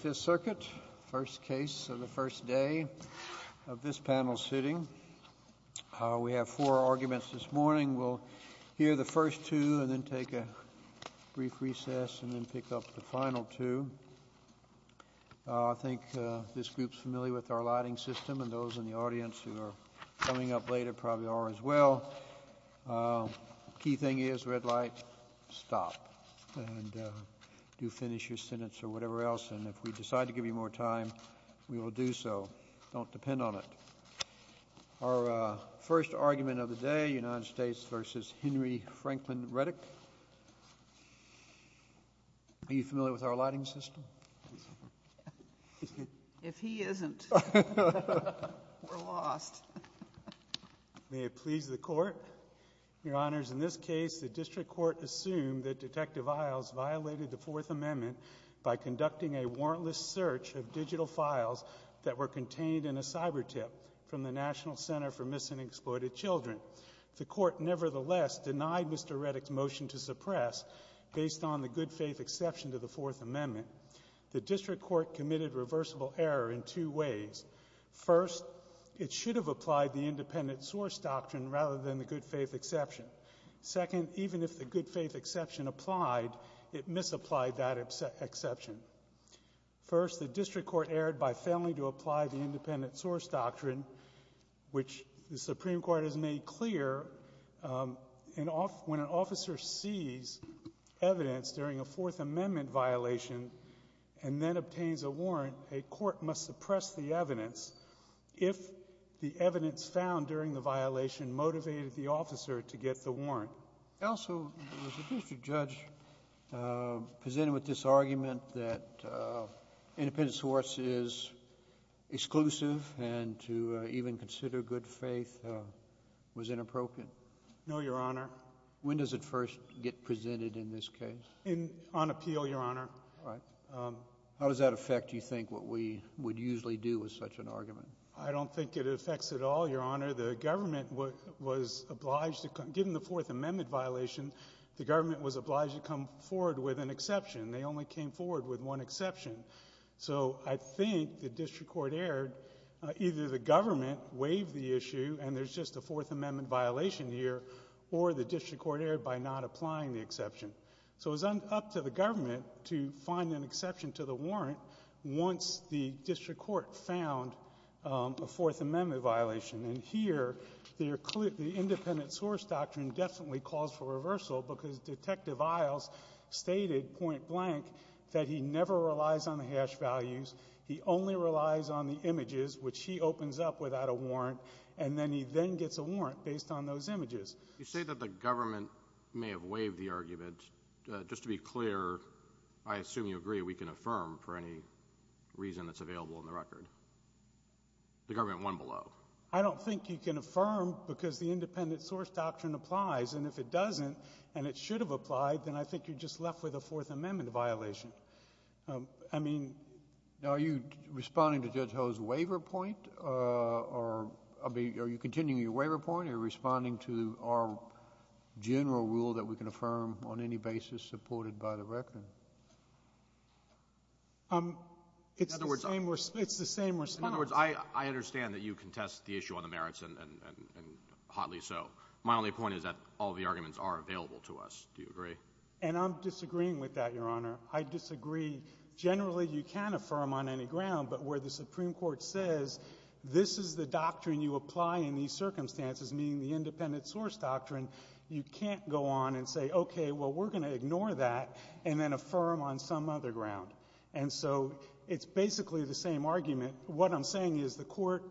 First case of the first day of this panel sitting. We have four arguments this morning. We'll hear the first two and then take a brief recess and then pick up the final two. I think this group's familiar with our lighting system and those in the audience who are coming up later probably are as well. Key thing is red light, stop. Do finish your sentence or whatever else and if we decide to give you more time we will do so. Don't depend on it. Our first argument of the day United States v. Henry Franklin Reddick. Are you familiar with our lighting system? If he isn't, we're lost. May it please the Court. Your Honors, in this case the District Court assumed that Detective Isles violated the Fourth Amendment by conducting a warrantless search of digital files that were contained in a cyber tip from the National Center for Missing and Exploited Children. The Court nevertheless denied Mr. Reddick's motion to suppress based on the good faith exception to the Fourth Amendment. The District Court committed reversible error in two ways. First, it should have applied the independent source doctrine rather than the good faith exception. Second, even if the good faith exception applied, it misapplied that exception. First, the District Court erred by failing to apply the independent source doctrine, which the Supreme Court has approved. If a person commits a Fourth Amendment violation and then obtains a warrant, a court must suppress the evidence. If the evidence found during the violation motivated the officer to get the warrant. Also, was the District Judge presented with this argument that independent source is exclusive and to even consider good faith was inappropriate? No, Your Honor. When does it first get presented in this case? On appeal, Your Honor. All right. How does that affect, do you think, what we would usually do with such an argument? I don't think it affects at all, Your Honor. The government was obliged to come... given the Fourth Amendment violation, the government was obliged to come forward with an exception. They only came forward with one exception. So I think the District Court erred. Either the government waived the issue and there's just a Fourth Amendment violation here, or the District Court erred by not applying the exception. So it was up to the government to find an exception to the warrant once the District Court found a Fourth Amendment violation. And here, the independent source doctrine definitely calls for reversal because Detective Isles stated point blank that he never relies on the hash values. He only relies on the images, which he opens up without a warrant, and then he then gets a warrant based on those images. You say that the government may have waived the argument. Just to be clear, I assume you agree we can affirm for any reason that's available in the record. The government won below. I don't think you can affirm because the independent source doctrine applies, and if it doesn't and it should have applied, then I think you're just left with a Fourth Amendment violation. I think you're just left with a Fourth Amendment violation. Are you continuing your waiver point? Are you responding to our general rule that we can affirm on any basis supported by the record? In other words, I understand that you contest the issue on the merits and hotly so. My only point is that all the arguments are available to us. Do you agree? And I'm disagreeing with that, Your Honor. I disagree. Generally, you can affirm on any ground, but where the Supreme Court says this is the doctrine you apply in these circumstances, meaning the independent source doctrine, you can't go on and say, okay, well, we're going to ignore that and then affirm on some other ground. And so it's basically the same argument. What I'm saying is the court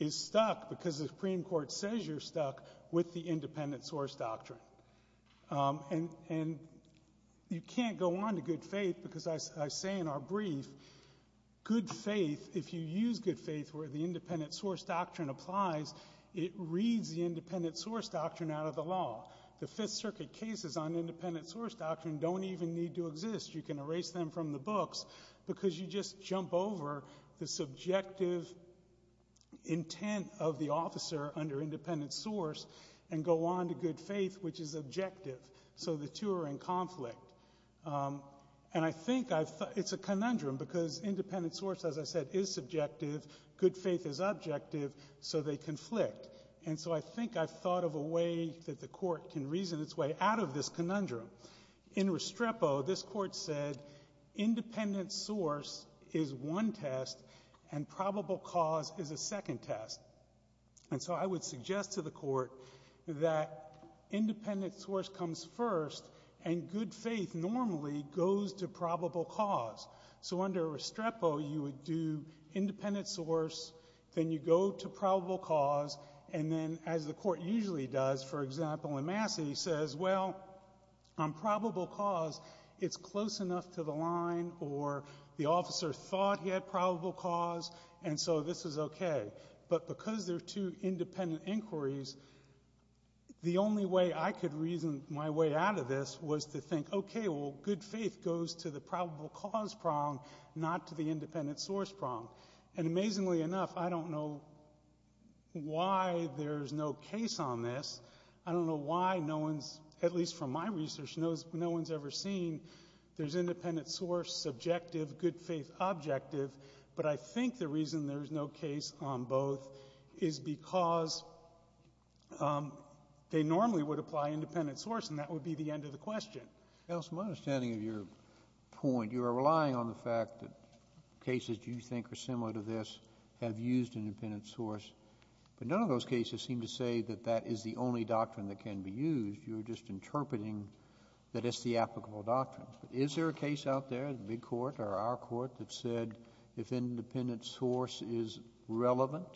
is stuck because the Supreme Court says you're stuck with the independent source doctrine. And you can't go on to good faith because I say in our brief, good faith, if you use good faith where the independent source doctrine applies, it reads the independent source doctrine out of the law. The Fifth Circuit cases on independent source doctrine don't even need to exist. You can erase them from the books because you just jump over the subjective intent of the officer under independent source and go on to good faith, which is objective. So the two are in conflict. And I think I've thought it's a conundrum because independent source, as I said, is subjective. Good faith is objective, so they conflict. And so I think I've thought of a way that the court can reason its way out of this conundrum. In Restrepo, this Court said independent source is one test and probable cause is a second test. And so I would suggest to the court that independent source comes first and good faith normally goes to probable cause. So under Restrepo, you would do independent source, then you go to probable cause, and then as the court usually does, for example, in Massey, says, well, on probable cause, it's close enough to the line or the officer thought he had probable cause, and so this is okay. But because they're two independent inquiries, the only way I could reason my way out of this was to think, okay, well, good faith goes to the probable cause prong, not to the independent source prong. And amazingly enough, I don't know why there's no case on this. I don't know why no one's, at least from my research, no one's ever seen there's independent source, subjective, good faith, objective. But I think the reason there's no case on both is because they normally would apply independent source, and that would be the end of the question. JUSTICE SCALIA, my understanding of your point, you are relying on the fact that cases you think are similar to this have used independent source, but none of those cases seem to say that that is the only doctrine that can be used. You're just interpreting that it's the applicable doctrine. Is there a case out there in the Big Court or our Court that said if independent source is relevant,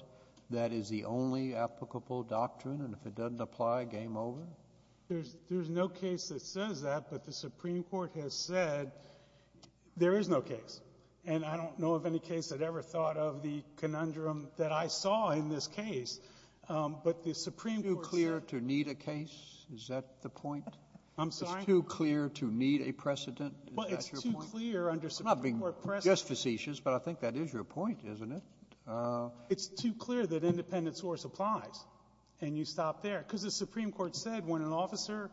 that is the only applicable doctrine, and if it doesn't apply, game over? There's no case that says that, but the Supreme Court has said there is no case. And I don't know of any case that ever thought of the conundrum that I saw in this case. But the Supreme Court said — It's too clear to need a case? Is that the point? I'm sorry? It's too clear to need a precedent? Is that your point? Well, it's too clear under Supreme Court precedent — I'm not being just facetious, but I think that is your point, isn't it? It's too clear that independent source applies, and you stop there. Because the Supreme Court said when an officer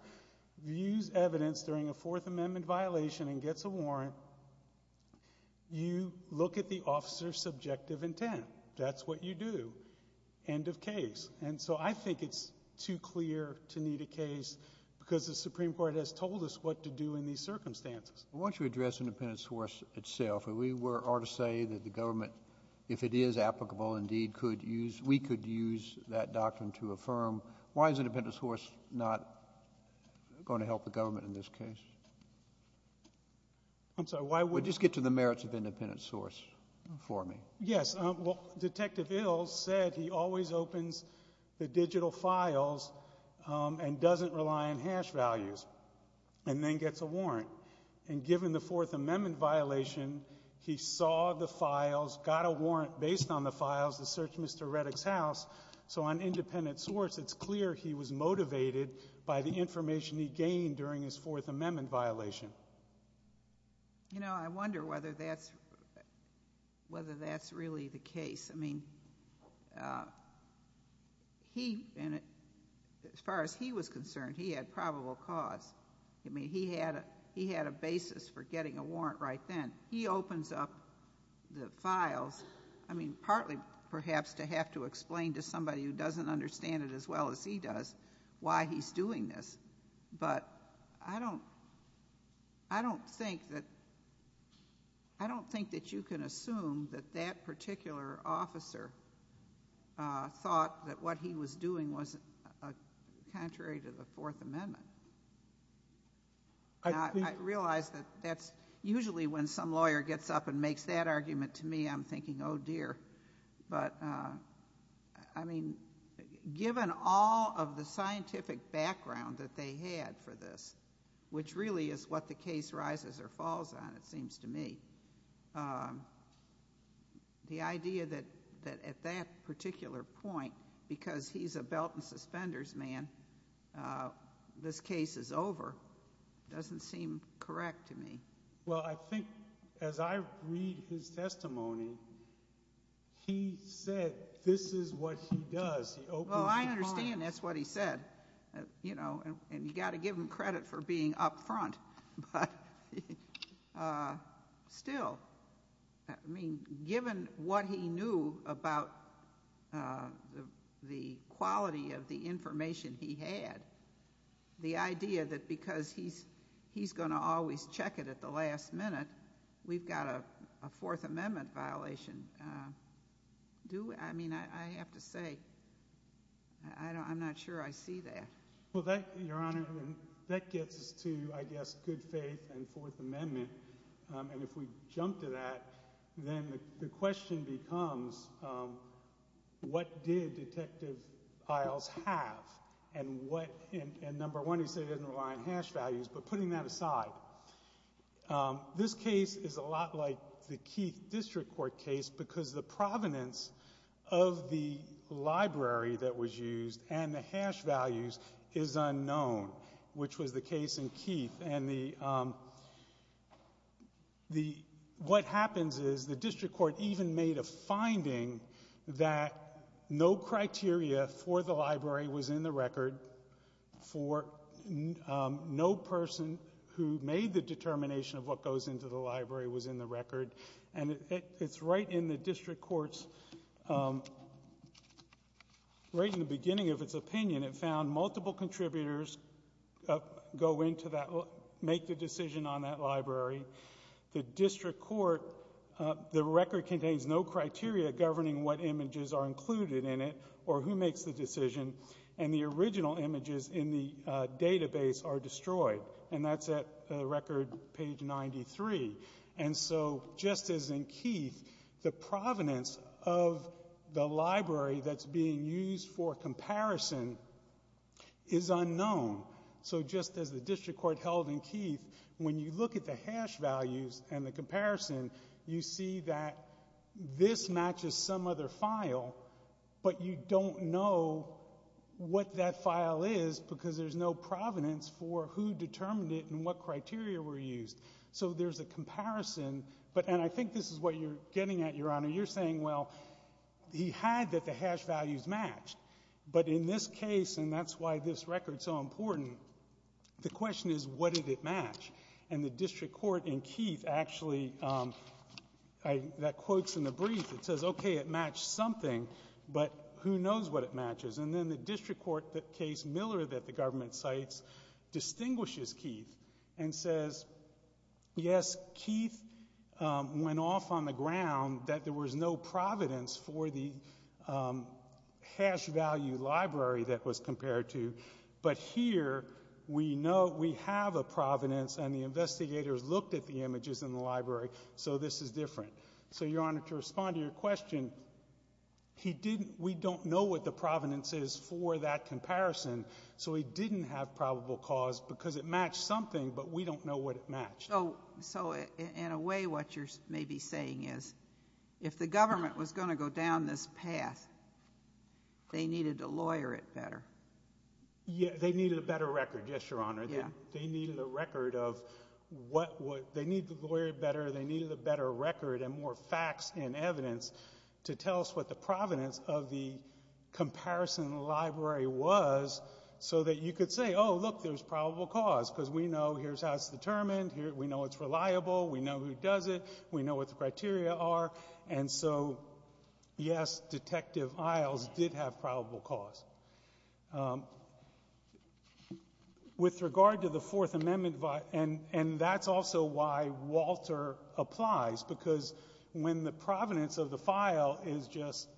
views evidence during a Fourth Amendment violation and gets a warrant, you look at the officer's subjective intent. That's what you do. End of case. And so I think it's too clear to need a case because the Supreme Court has told us what to do in these circumstances. Well, why don't you address independent source itself? We were — are to say that the government, if it is applicable indeed, could use — we could use that doctrine to affirm. Why is independent source not going to help the government in this case? I'm sorry, why would — Just get to the merits of independent source for me. Yes. Well, Detective Ills said he always opens the digital files and doesn't rely on hash values and then gets a warrant. And given the Fourth Amendment violation, he saw the files, got a warrant based on the files to search Mr. Reddick's house. So on independent source, it's clear he was motivated by the information he gained during his Fourth Amendment violation. You know, I wonder whether that's — whether that's really the case. I mean, he — and as far as he was concerned, he had probable cause. I mean, he had a basis for getting a warrant right then. He opens up the files, I mean, partly perhaps to have to explain to somebody who doesn't understand it as well as he does why he's doing this. But I don't — I don't think that — I don't think that you can assume that that particular officer thought that what he was doing was contrary to the Fourth Amendment. I think — Now, I realize that that's — usually when some lawyer gets up and makes that argument to me, I'm thinking, oh, dear. But, I mean, given all of the scientific background that they had for this, which really is what the case rises or falls on, it seems to me, the idea that at that particular point, because he's a belt and suspenders man, this case is over, doesn't seem correct to me. Well, I think as I read his testimony, he said this is what he does. He opens the files. Well, I understand that's what he said, you know, and you've got to give him credit for being up front. But still, I mean, given what he knew about the quality of the information he had, the idea that because he's going to always check it at the last minute, we've got a Fourth Amendment violation, do — I mean, I have to say, I don't — I'm not sure I see that. Well, that, Your Honor, that gets us to, I guess, good faith and Fourth Amendment. And if we jump to that, then the question becomes, what did Detective Iles have? And what — and number one, he said he doesn't rely on hash values, but putting that aside, this case is a lot like the Keith District Court case because the provenance of the library that was used and the hash values is unknown, which was the case in Keith. And the — what happens is the district court even made a finding that no criteria for the library was in the record for — no person who made the determination of what goes into the library was in the record. And it's right in the district court's — right in the beginning of its opinion, it found multiple contributors go into that — make the decision on that library. The district court — the record contains no criteria governing what images are included in it or who makes the decision. And the original images in the database are And so, just as in Keith, the provenance of the library that's being used for comparison is unknown. So just as the district court held in Keith, when you look at the hash values and the comparison, you see that this matches some other file, but you don't know what that file is because there's no provenance for who determined it and what criteria were used. So there's a comparison, but — and I think this is what you're getting at, Your Honor. You're saying, well, he had that the hash values matched, but in this case — and that's why this record's so important — the question is, what did it match? And the district court in Keith actually — that quote's in the brief. It says, okay, it matched something, but who knows what it matches? And then the district court — the case Miller that the Yes, Keith went off on the ground that there was no provenance for the hash value library that was compared to. But here, we know — we have a provenance, and the investigators looked at the images in the library, so this is different. So, Your Honor, to respond to your question, he didn't — we don't know what the provenance is for that comparison, so he didn't have a probable cause, because it matched something, but we don't know what it matched. So in a way, what you're maybe saying is, if the government was going to go down this path, they needed to lawyer it better. They needed a better record, yes, Your Honor. They needed a record of what would — they needed to lawyer it better, they needed a better record and more facts and evidence to tell us what the provenance of the comparison library was so that you could say, oh, this is — look, there's probable cause, because we know here's how it's determined, we know it's reliable, we know who does it, we know what the criteria are, and so, yes, Detective Isles did have probable cause. With regard to the Fourth Amendment — and that's also why Walter applies, because when the provenance of the file is just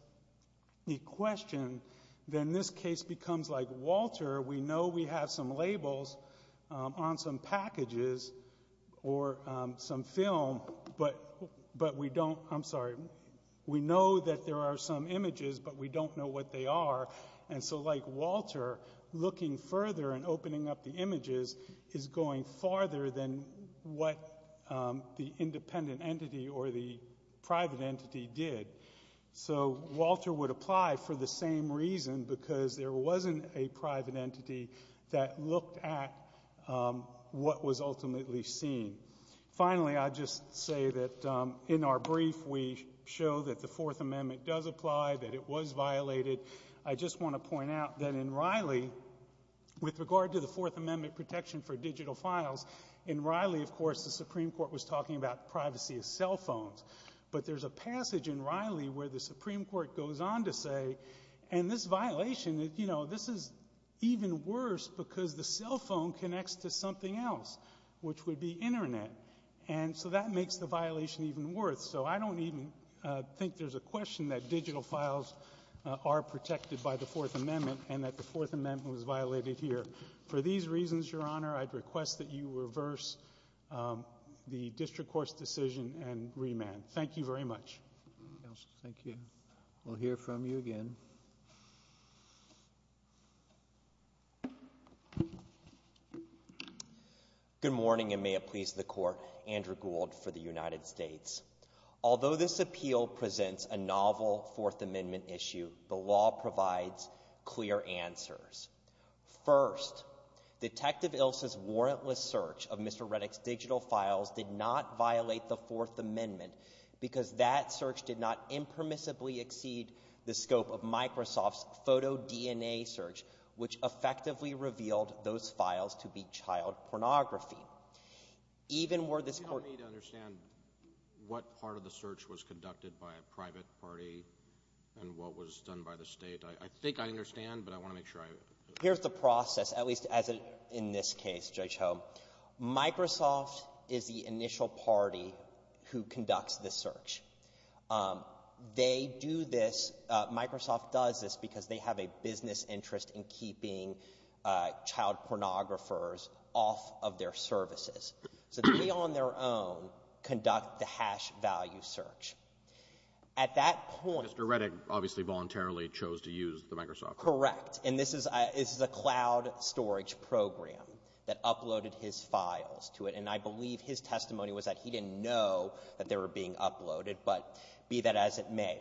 a question, then this case becomes like Walter, we know we have some labels on some packages or some film, but we don't — I'm sorry, we know that there are some images, but we don't know what they are, and so like Walter, looking further and opening up the images is going farther than what the independent entity or the private entity did. So Walter would apply for the same reason, because there wasn't a private entity that looked at what was ultimately seen. Finally, I'd just say that in our brief, we show that the Fourth Amendment does apply, that it was violated. I just want to point out that in Riley, with regard to the Fourth Amendment protection for digital files, in Riley, of course, the Supreme Court was talking about privacy of cell phones, but there's a passage in Riley where the Supreme Court goes on to say, and this violation, you know, this is even worse because the cell phone connects to something else, which would be Internet, and so that makes the violation even worse. So I don't even think there's a question that digital files are protected by the Fourth Amendment and that the Fourth Amendment was violated here. For these reasons, Your Honor, I'd request that you reverse the district court's decision and remand. Thank you very much. Thank you. We'll hear from you again. Good morning, and may it please the Court. Andrew Gould for the United States. Although this appeal presents a novel Fourth Amendment issue, the law provides clear answers. First, Detective Ilse's warrantless search of Mr. Reddick's digital files did not violate the Fourth Amendment because that search did not impermissibly exceed the scope of Microsoft's photo DNA search, which effectively revealed those files to be child pornography. Even were this court I need to understand what part of the search was conducted by a private party and what was done by the State. I think I understand, but I want to make sure I Here's the process, at least as in this case, Judge Ho. Microsoft is the initial party who conducts the search. They do this, Microsoft does this because they have a business interest in keeping child pornographers off of their services. So they on their own conduct the hash value search. At that point Mr. Reddick obviously voluntarily chose to use the Microsoft Correct. And this is a cloud storage program that uploaded his files to it. And I believe his testimony was that he didn't know that they were being uploaded, but be that as it may.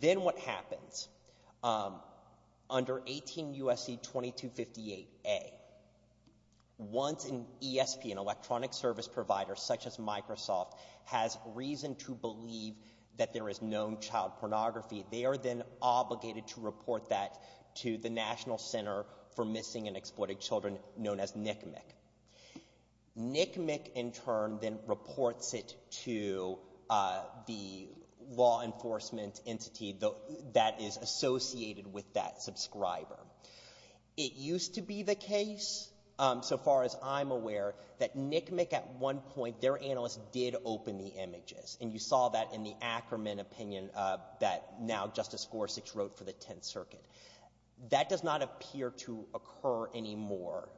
Then what happens, under 18 U.S.C. 2258A, once an ESP, an electronic service provider such as Microsoft, has reason to believe that there is known child pornography, they are then obligated to report that to the National Center for Missing and Exploited Children known as NCMEC. NCMEC in turn then reports it to the law enforcement entity that is associated with that subscriber. It used to be the case, so far as I'm aware, that NCMEC at one point their analysts did open the images. And you saw that in the Ackerman opinion that now Justice Gorsuch wrote for the Tenth Circuit. That does not appear to occur anymore.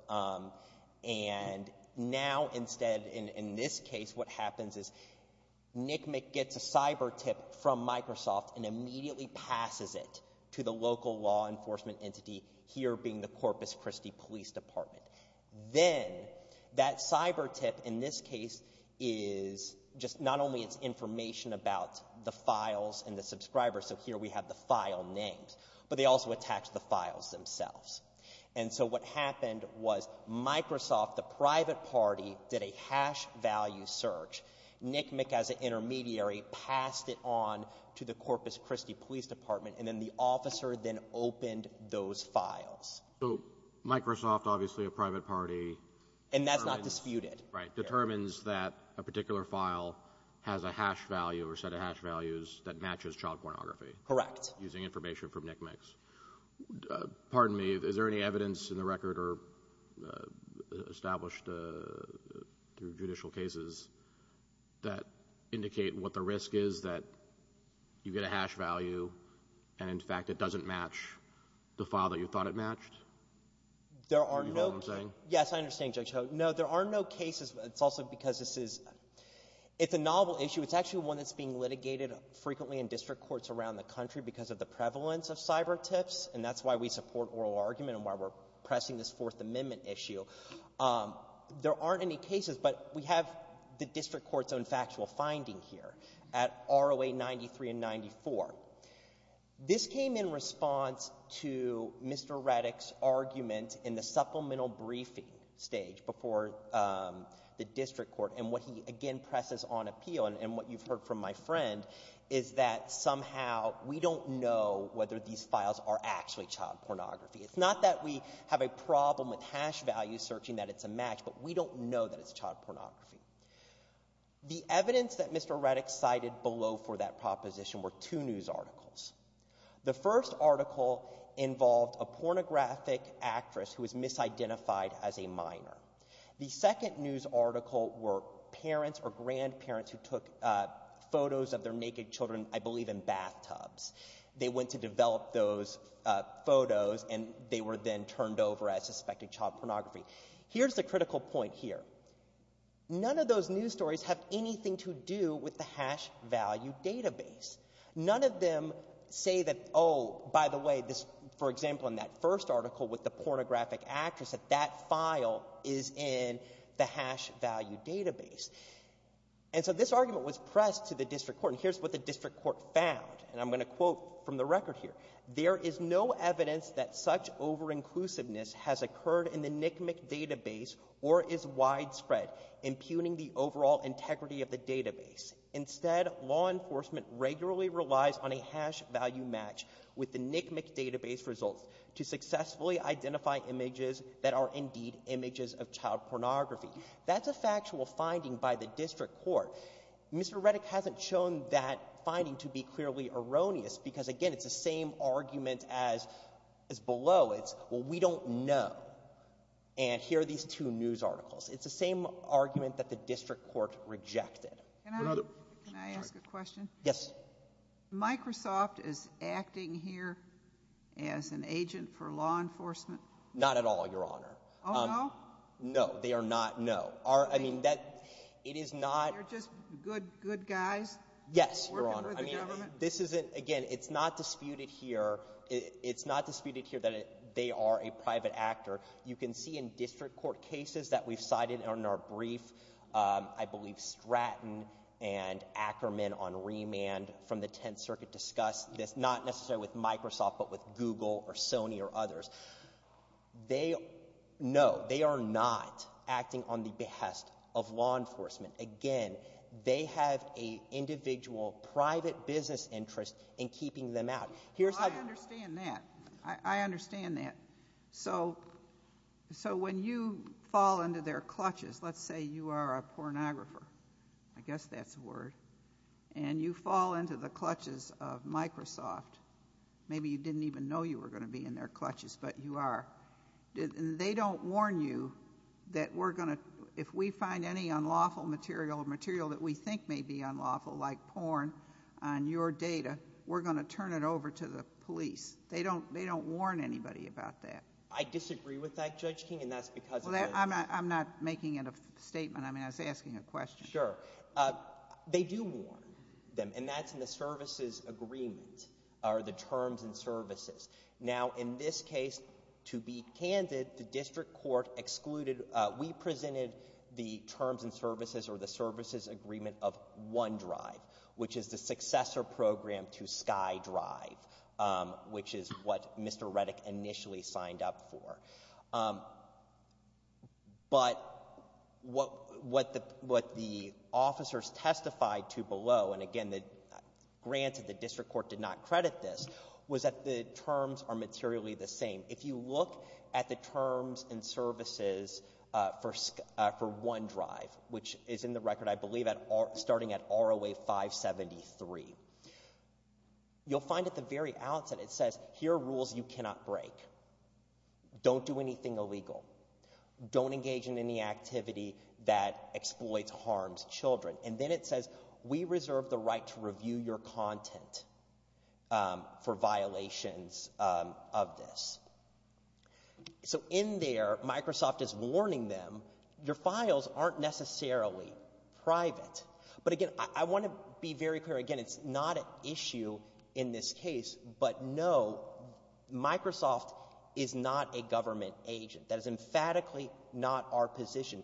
And now instead, in this case, what happens is NCMEC gets a cyber tip from Microsoft and immediately passes it to the local law enforcement entity, here being the Corpus Christi Police Department. Then that cyber tip in this case is just not only it's information about the file names, but they also attach the files themselves. And so what happened was Microsoft, the private party, did a hash value search. NCMEC as an intermediary passed it on to the Corpus Christi Police Department, and then the officer then opened those files. So Microsoft, obviously a private party. And that's not disputed. Right. Determines that a particular file has a hash value or set of hash values that matches child pornography. Correct. Using information from NCMECs. Pardon me, is there any evidence in the record or established through judicial cases that indicate what the risk is that you get a hash value and, in fact, it doesn't match the file that you thought it matched? Do you know what I'm saying? Yes, I understand, Judge Hogan. No, there are no cases. It's also because this is, it's a novel issue. It's actually one that's being litigated frequently in district courts around the country because of the prevalence of cyber tips, and that's why we support oral argument and why we're pressing this Fourth Amendment issue. There aren't any cases, but we have the district court's own factual finding here at ROA 93 and 94. This came in response to Mr. Reddick's argument in the supplemental briefing stage before the district court, and what he, again, presses on appeal, and what you've heard from my friend, is that somehow we don't know whether these files are actually child pornography. It's not that we have a problem with hash values searching that it's a match, but we don't know that it's child pornography. The evidence that Mr. Reddick cited below for that proposition were two news articles. The first article involved a pornographic actress who was misidentified as a minor. The second news article were parents or grandparents who took photos of their naked children, I believe, in bathtubs. They went to develop those photos, and they were then turned over as suspected child pornography. Here's the critical point here. None of those news stories have anything to do with the hash value database. None of them say that, oh, by the way, this, for example, in that first article with the pornographic actress, that that file is in the hash value database. And so this argument was pressed to the district court, and here's what the district court found, and I'm going to quote from the record here. There is no evidence that such over-inclusiveness has occurred in the NCMEC database or is widespread impugning the overall integrity of the database. Instead, law enforcement regularly relies on a hash value match with the NCMEC database results to successfully identify images that are indeed images of child pornography. That's a factual finding by the district court. Mr. Reddick hasn't shown that finding to be clearly erroneous because, again, it's the same argument as below. It's, well, we don't know. And here are these two news articles. It's the same argument that the district court rejected. Can I ask a question? Yes. Microsoft is acting here as an agent for law enforcement? Not at all, Your Honor. Oh, no? No, they are not, no. I mean, that, it is not You're just good, good guys working with the government? Yes, Your Honor. I mean, this isn't, again, it's not disputed here. It's not disputed here that they are a private actor. You can see in district court cases that we've cited in our brief, I believe Stratton and Ackerman on remand from the Tenth Circuit discussed this, not necessarily with Microsoft, but with Google or Sony or others. They, no, they are not acting on the behest of law enforcement. Again, they have a individual private business interest in keeping them out. I understand that. I understand that. So when you fall into their clutches, let's say you are a pornographer. I guess that's a word. And you fall into the clutches of Microsoft. Maybe you didn't even know you were going to be in their clutches, but you are. They don't warn you that we're going to, if we find any unlawful material, material that we think may be unlawful, like porn, on your data, we're going to turn it over to the police. They don't warn anybody about that. I disagree with that, Judge King, and that's because of the... Well, I'm not making a statement. I mean, I was asking a question. Sure. They do warn them, and that's in the services agreement, or the terms and services. Now, in this case, to be candid, the district court excluded, we presented the terms and services agreement of OneDrive, which is the successor program to SkyDrive, which is what Mr. Reddick initially signed up for. But what the officers testified to below, and again, the grants of the district court did not credit this, was that the terms are materially the same. If you look at the terms and services for OneDrive, which is in the record, I believe, starting at ROA 573, you'll find at the very outset, it says, here are rules you cannot break. Don't do anything illegal. Don't engage in any activity that exploits harms children. And then it says, we reserve the right to review your content for violations of this. So, in there, Microsoft is warning them, your files aren't necessarily private. But again, I want to be very clear, again, it's not an issue in this case, but no, Microsoft is not a government agent. That is emphatically not our position.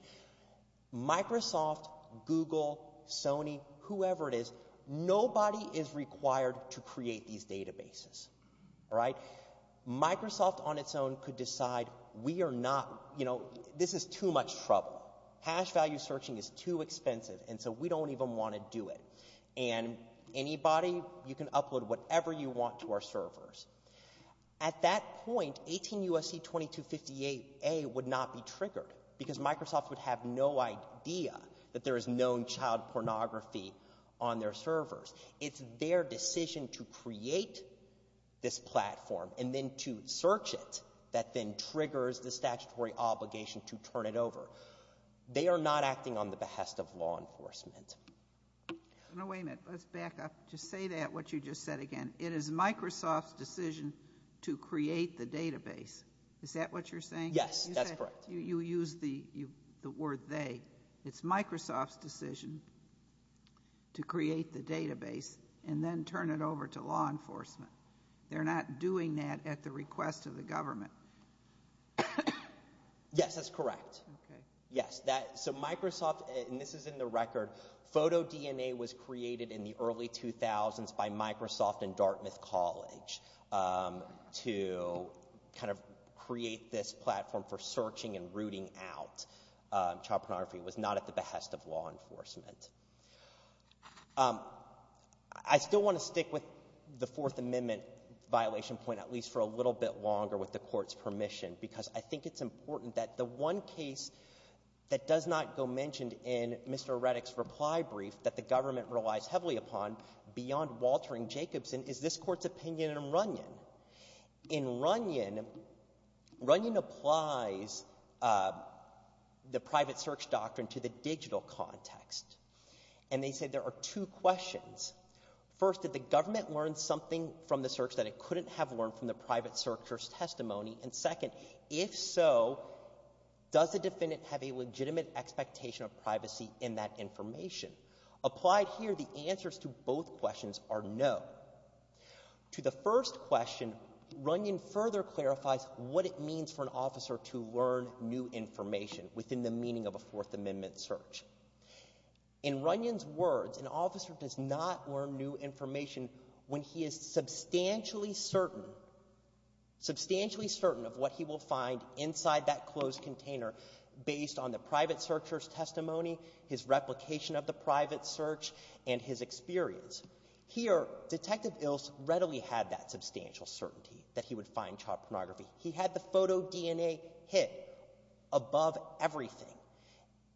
Microsoft, Google, Sony, whoever it is, nobody is required to create these databases. All right? Microsoft on its own could decide, we are not, you know, this is too much trouble. Hash value searching is too expensive, and so we don't even want to do it. And anybody, you can upload whatever you want to our servers. At that point, 18 U.S.C. 2258A would not be triggered, because Microsoft would have no idea that there is known child pornography on their servers. It's their decision to create this platform, and then to search it, that then triggers the statutory obligation to turn it over. They are not acting on the behest of law enforcement. No, wait a minute. Let's back up. Just say that, what you just said again. It is Microsoft's decision to create the database. Is that what you're saying? Yes, that's correct. You used the word they. It's Microsoft's decision to create the database, and then turn it over to law enforcement. They're not doing that at the request of the government. Yes, that's correct. Yes. So Microsoft, and this is in the record, photo DNA was created in the early 2000s by Microsoft and Dartmouth College to kind of create this platform for rooting out child pornography. It was not at the behest of law enforcement. I still want to stick with the Fourth Amendment violation point, at least for a little bit longer with the Court's permission, because I think it's important that the one case that does not go mentioned in Mr. Reddick's reply brief that the government relies heavily upon beyond Walter and Jacobson is this Court's opinion in Runyon. In Runyon, Runyon applies the private search doctrine to the digital context, and they say there are two questions. First, did the government learn something from the search that it couldn't have learned from the private searcher's testimony? And second, if so, does the defendant have a legitimate expectation of privacy in that information? Applied here, the answers to both questions are no. To the first question, Runyon further clarifies what it means for an officer to learn new information within the meaning of a Fourth Amendment search. In Runyon's words, an officer does not learn new information when he is substantially certain, substantially certain of what he will find inside that closed container based on the private searcher's testimony, his replication of the private search, and his experience. Here, Detective Ilse readily had that substantial certainty that he would find child pornography. He had the photo DNA hit above everything,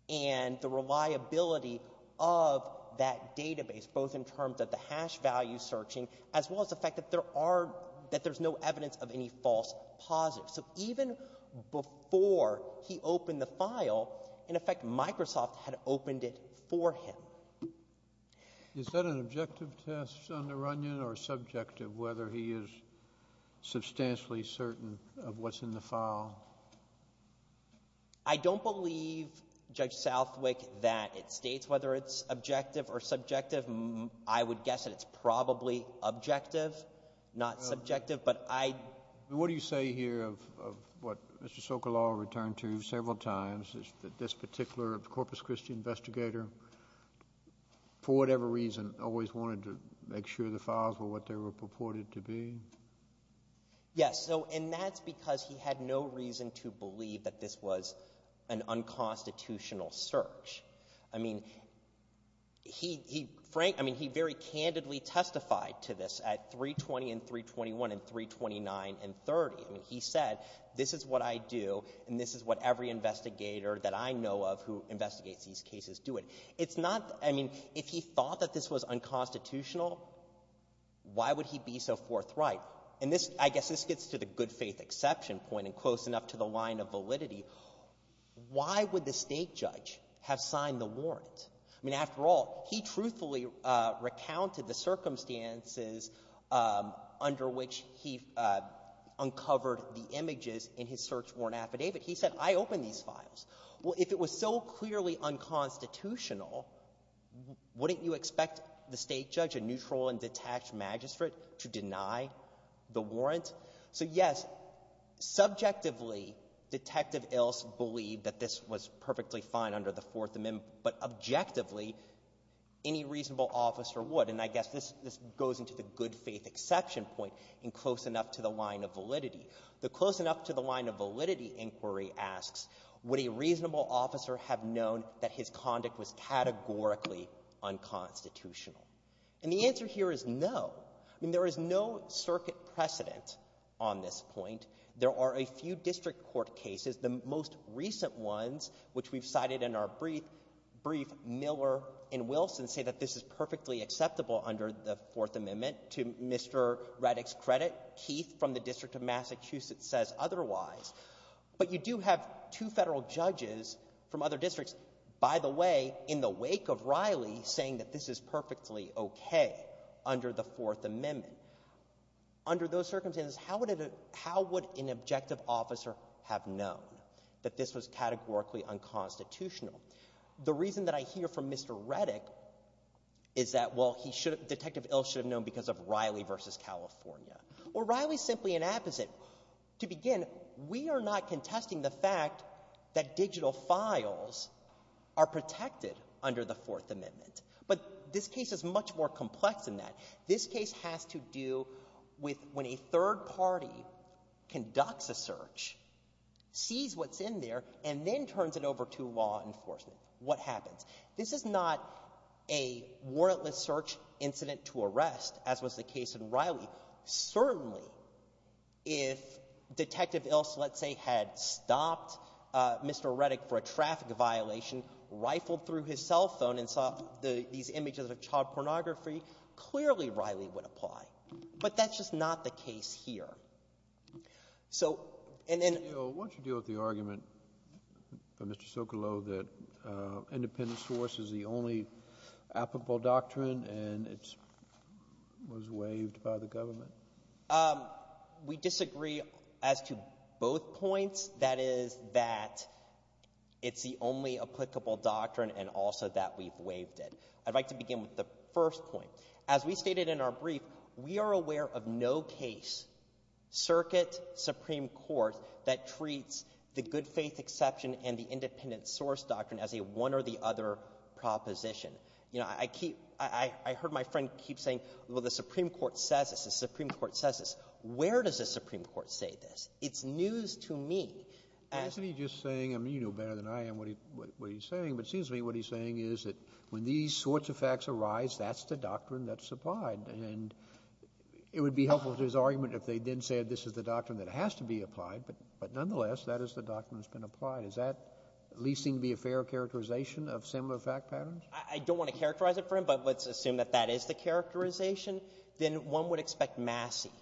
and the reliability of that database, both in terms of the hash value searching, as well as the fact that there are, that there's no evidence of any false positives. So even before he opened the file, in effect, Microsoft had opened it for him. Is that an objective test under Runyon, or subjective, whether he is substantially certain of what's in the file? I don't believe, Judge Southwick, that it States whether it's objective or subjective. I would guess that it's probably objective, not subjective. But I — What do you say here of what Mr. Sokolow returned to several times, that this particular Corpus Christi investigator, for whatever reason, always wanted to make sure the files were what they were purported to be? Yes. So, and that's because he had no reason to believe that this was an unconstitutional search. I mean, he — Frank — I mean, he very candidly testified to this at 320 and 321 and 329 and 30. I mean, he said, this is what I do, and this is what every investigator that I know of who investigates these cases do. It's not — I mean, if he thought that this was unconstitutional, why would he be so forthright? And this — I guess this gets to the good-faith exception point and close enough to the line of validity. Why would the State judge have signed the warrant? I mean, after all, he truthfully recounted the circumstances under which he uncovered the images in his search warrant affidavit. He said, I opened these files. Well, if it was so clearly unconstitutional, wouldn't you expect the State judge, a neutral and detached magistrate, to deny the warrant? So, yes, subjectively, Detective Ilse believed that this was perfectly fine under the Fourth Amendment, but objectively, any reasonable officer would. And I guess this goes into the good-faith exception point and close enough to the line of validity. The close enough to the line of validity inquiry asks, would a reasonable officer have known that his conduct was categorically unconstitutional? And the answer here is no. I mean, there is no circuit precedent on this point. There are a few district court cases. The most recent ones, which we've cited in our brief, Miller and Wilson, say that this is perfectly acceptable under the Fourth Amendment. To Mr. Reddick's credit, Keith from the District of Massachusetts says otherwise. But you do have two Federal judges from other districts, by the way, in the wake of Riley, saying that this is perfectly okay under the Fourth Amendment. Under those circumstances, how would an objective officer have known that this was categorically unconstitutional? The reason that I hear from Mr. Reddick is that, well, Detective Ilse should have known because of Riley v. California. Well, Riley is simply an apposite. To begin, we are not contesting the fact that digital files are protected under the Fourth Amendment. But this case is much more complex than that. This case has to do with when a third party conducts a search, sees what's in there, and then turns it over to law enforcement. What happens? This is not a warrantless search incident to arrest, as was the case in Riley. Certainly, if Detective Ilse, let's say, had stopped Mr. Reddick for a traffic violation, rifled through his cell phone and saw these images of child pornography, clearly Riley would apply. But that's just not the case here. So, and then — Kennedy, what's your deal with the argument from Mr. Socolow that independent source is the only applicable doctrine and it was waived by the government? We disagree as to both points. That is that it's the only applicable doctrine and also that we've waived it. I'd like to begin with the first point. As we stated in our discussion, Circuit, Supreme Court, that treats the good-faith exception and the independent source doctrine as a one-or-the-other proposition. You know, I keep — I heard my friend keep saying, well, the Supreme Court says this, the Supreme Court says this. Where does the Supreme Court say this? It's news to me. Isn't he just saying — I mean, you know better than I am what he's saying, but it seems to me what he's saying is that when these sorts of facts arise, that's the doctrine that's applied, and it would be helpful to his argument if they then said this is the doctrine that has to be applied, but nonetheless, that is the doctrine that's been applied. Does that at least seem to be a fair characterization of similar fact patterns? I don't want to characterize it for him, but let's assume that that is the characterization. Then one would expect Massey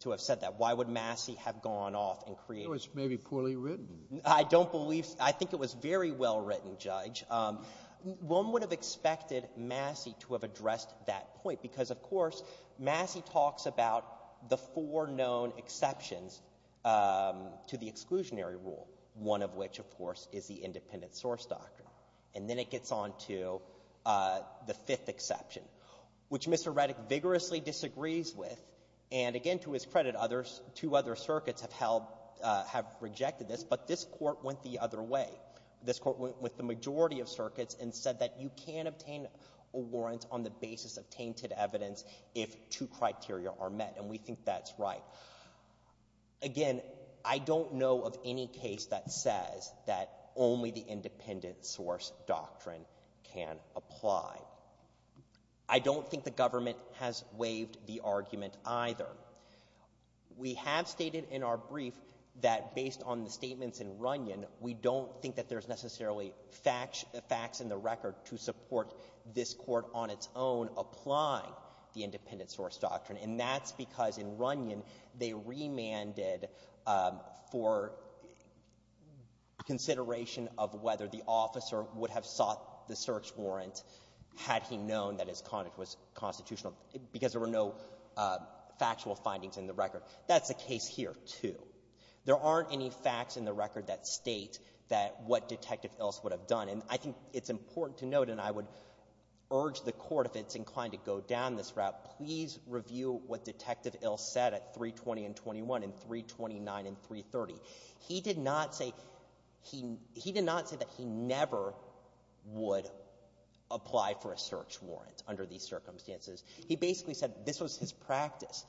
to have said that. Why would Massey have gone off and created — Well, it's maybe poorly written. I don't believe — I think it was very well written, Judge. One would have expected Massey to have addressed that point, because, of course, Massey talks about the four known exceptions to the exclusionary rule, one of which, of course, is the independent source doctrine. And then it gets on to the fifth exception, which Mr. Reddick vigorously disagrees with, and again, to his credit, others — two other circuits have held — have rejected this. But this Court went the other way. This Court went with the majority of circuits and said that you can't obtain a warrant on the basis of tainted evidence if two criteria are met, and we think that's right. Again, I don't know of any case that says that only the independent source doctrine can apply. I don't think the government has waived the argument, either. We have stated in our brief that, based on the statements in Runyon, we don't think that there's necessarily facts in the record to support this Court on its own applying the independent source doctrine, and that's because, in Runyon, they remanded for consideration of whether the officer would have sought the search warrant had he known that his conduct was constitutional, because there were no factual findings in the record. That's the case here, too. There aren't any facts in the record that state that — what Detective Ilse would have done, and I think it's important to note, and I would urge the Court, if it's inclined to go down this route, please review what Detective Ilse said at 320 and 21 and 329 and 330. He did not say — he did not say that he never would apply for a search warrant under these circumstances. He basically said this was his practice.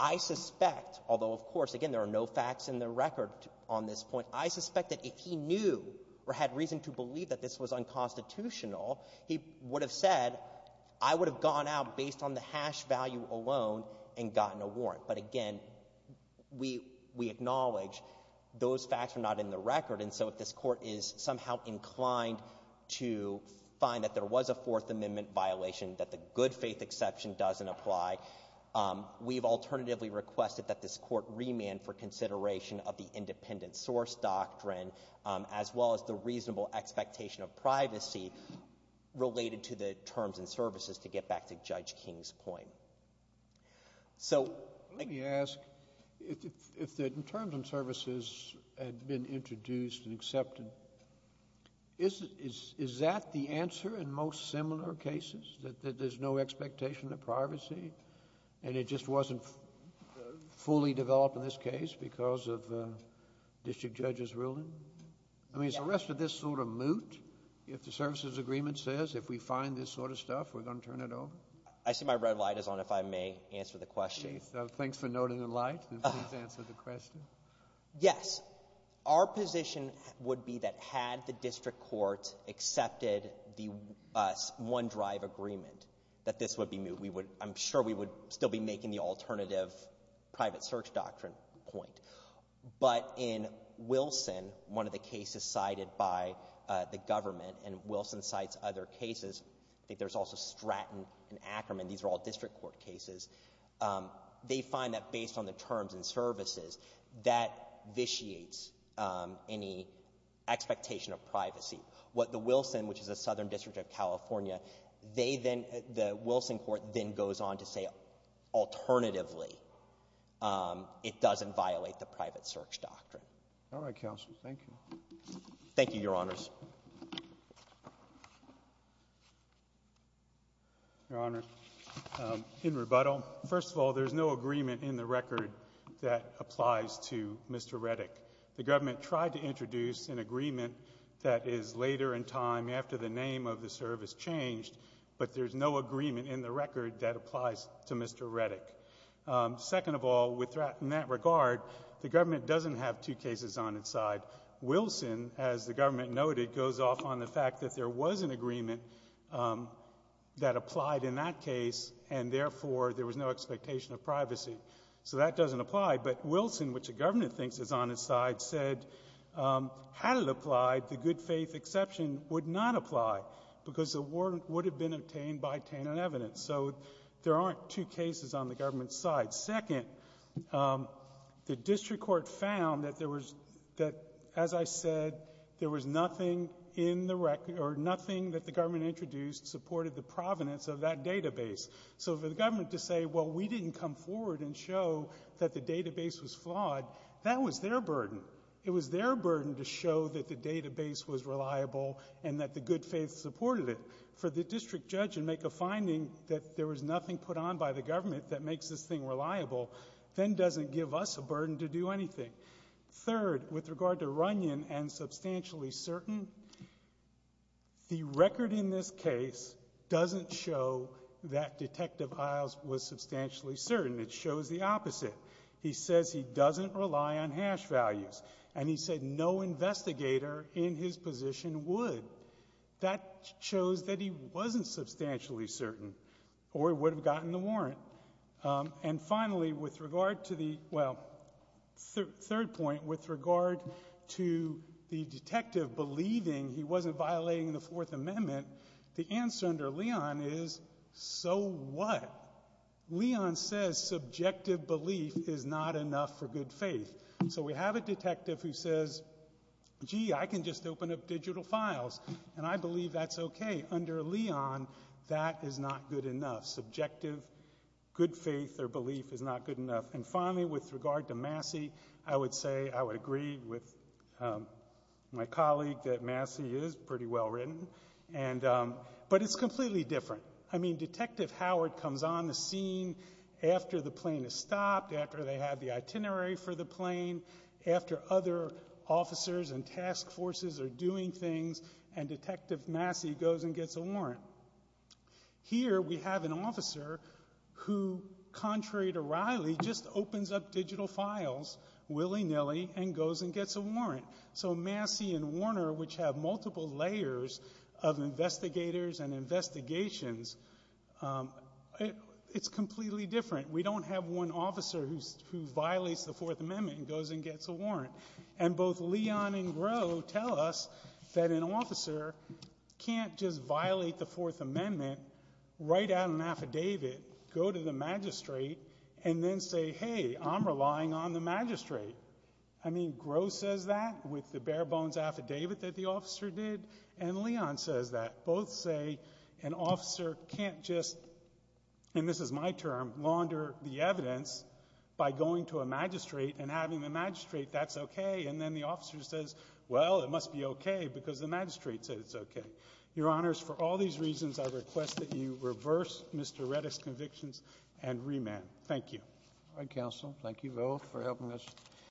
I suspect, although, of course, again, there are no facts in the record on this point, I suspect that if he knew or had reason to believe that this was unconstitutional, he would have said, I would have gone out based on the hash value alone and gotten a warrant. But again, we acknowledge those facts are not in the record, and so if this Court is somehow inclined to find that there was a Fourth Amendment violation, that the good faith exception doesn't apply, we've alternatively requested that this Court remand for consideration of the independent source doctrine, as well as the reasonable expectation of privacy related to the terms and services, to get back to Judge King's point. So — Let me ask, if the terms and services had been introduced and accepted, is that the reasonable expectation of privacy, and it just wasn't fully developed in this case because of the district judge's ruling? I mean, is the rest of this sort of moot, if the services agreement says if we find this sort of stuff, we're going to turn it over? I see my red light is on, if I may answer the question. Chief, thanks for noting the light, and please answer the question. Yes. Our position would be that had the district court accepted the one-drive agreement, that this would be moot. We would — I'm sure we would still be making the alternative private search doctrine point. But in Wilson, one of the cases cited by the government, and Wilson cites other cases, I think there's also Stratton and Ackerman. These are all district court cases. They find that based on the terms and services, that vitiates any expectation of privacy. What the Wilson, which is a southern district of California, they then — the Wilson court then goes on to say, alternatively, it doesn't violate the private search doctrine. All right, counsel. Thank you. Thank you, Your Honors. Your Honor, in rebuttal, first of all, there's no agreement in the record that applies to Mr. Reddick. The government tried to introduce an agreement that is later in time, after the name of the service changed, but there's no agreement in the record that applies to Mr. Reddick. Second of all, in that regard, the government doesn't have two cases on its side. Wilson, as the government noted, goes off on the fact that there was an agreement that applied in that case, and therefore, there was no expectation of privacy. So that doesn't apply. But Wilson, which the government thinks is on its side, said, had it applied, the good faith exception would not apply because the warrant would have been obtained by tainted evidence. So there aren't two cases on the government's side. Second, the district court found that there was — that, as I said, there was nothing in the — or nothing that the government introduced supported the provenance of that database. So for the government to say, well, we didn't come forward and show that the database was flawed, that was their burden. It was their burden to show that the database was reliable and that the good faith supported it. For the district judge to make a finding that there was nothing put on by the government that makes this thing reliable, then doesn't give us a burden to do anything. Third, with regard to Runyon and Substantially Certain, the record in this case doesn't show that Detective Isles was substantially certain. It shows the opposite. He says he doesn't rely on hash values. And he said no investigator in his position would. That shows that he wasn't substantially certain or would have gotten the warrant. And finally, with regard to the — well, third point, with regard to the detective believing he wasn't violating the Fourth Amendment, the answer under Leon is, so what? Leon says subjective belief is not enough for good faith. So we have a detective who says, gee, I can just open up digital files, and I believe that's okay. Under Leon, that is not good enough. Subjective good faith or belief is not good enough. And finally, with regard to Massey, I would say I would agree with my colleague that Massey is pretty well written, but it's completely different. I mean, Detective Howard comes on the scene after the plane has stopped, after they have the itinerary for the plane, after other officers and task forces are doing things, and Detective Massey goes and gets a warrant. Here, we have an officer who, contrary to Riley, just opens up digital files willy-nilly and goes and gets a warrant. So Massey and Warner, which have multiple layers of investigators and investigations, it's completely different. We don't have one officer who violates the Fourth Amendment and goes and gets a warrant. And both Leon and Groh tell us that an officer can't just violate the Fourth Amendment, write out an affidavit, go to the magistrate, and then say, hey, I'm relying on the magistrate. I mean, Groh says that with the bare bones affidavit that the officer did, and Leon says that. Both say an officer can't just, and this is my term, launder the evidence by going to the magistrate and having the magistrate, that's okay. And then the officer says, well, it must be okay because the magistrate said it's okay. Your Honors, for all these reasons, I request that you reverse Mr. Reddick's convictions and remand. Thank you. All right, counsel. Thank you both for helping us.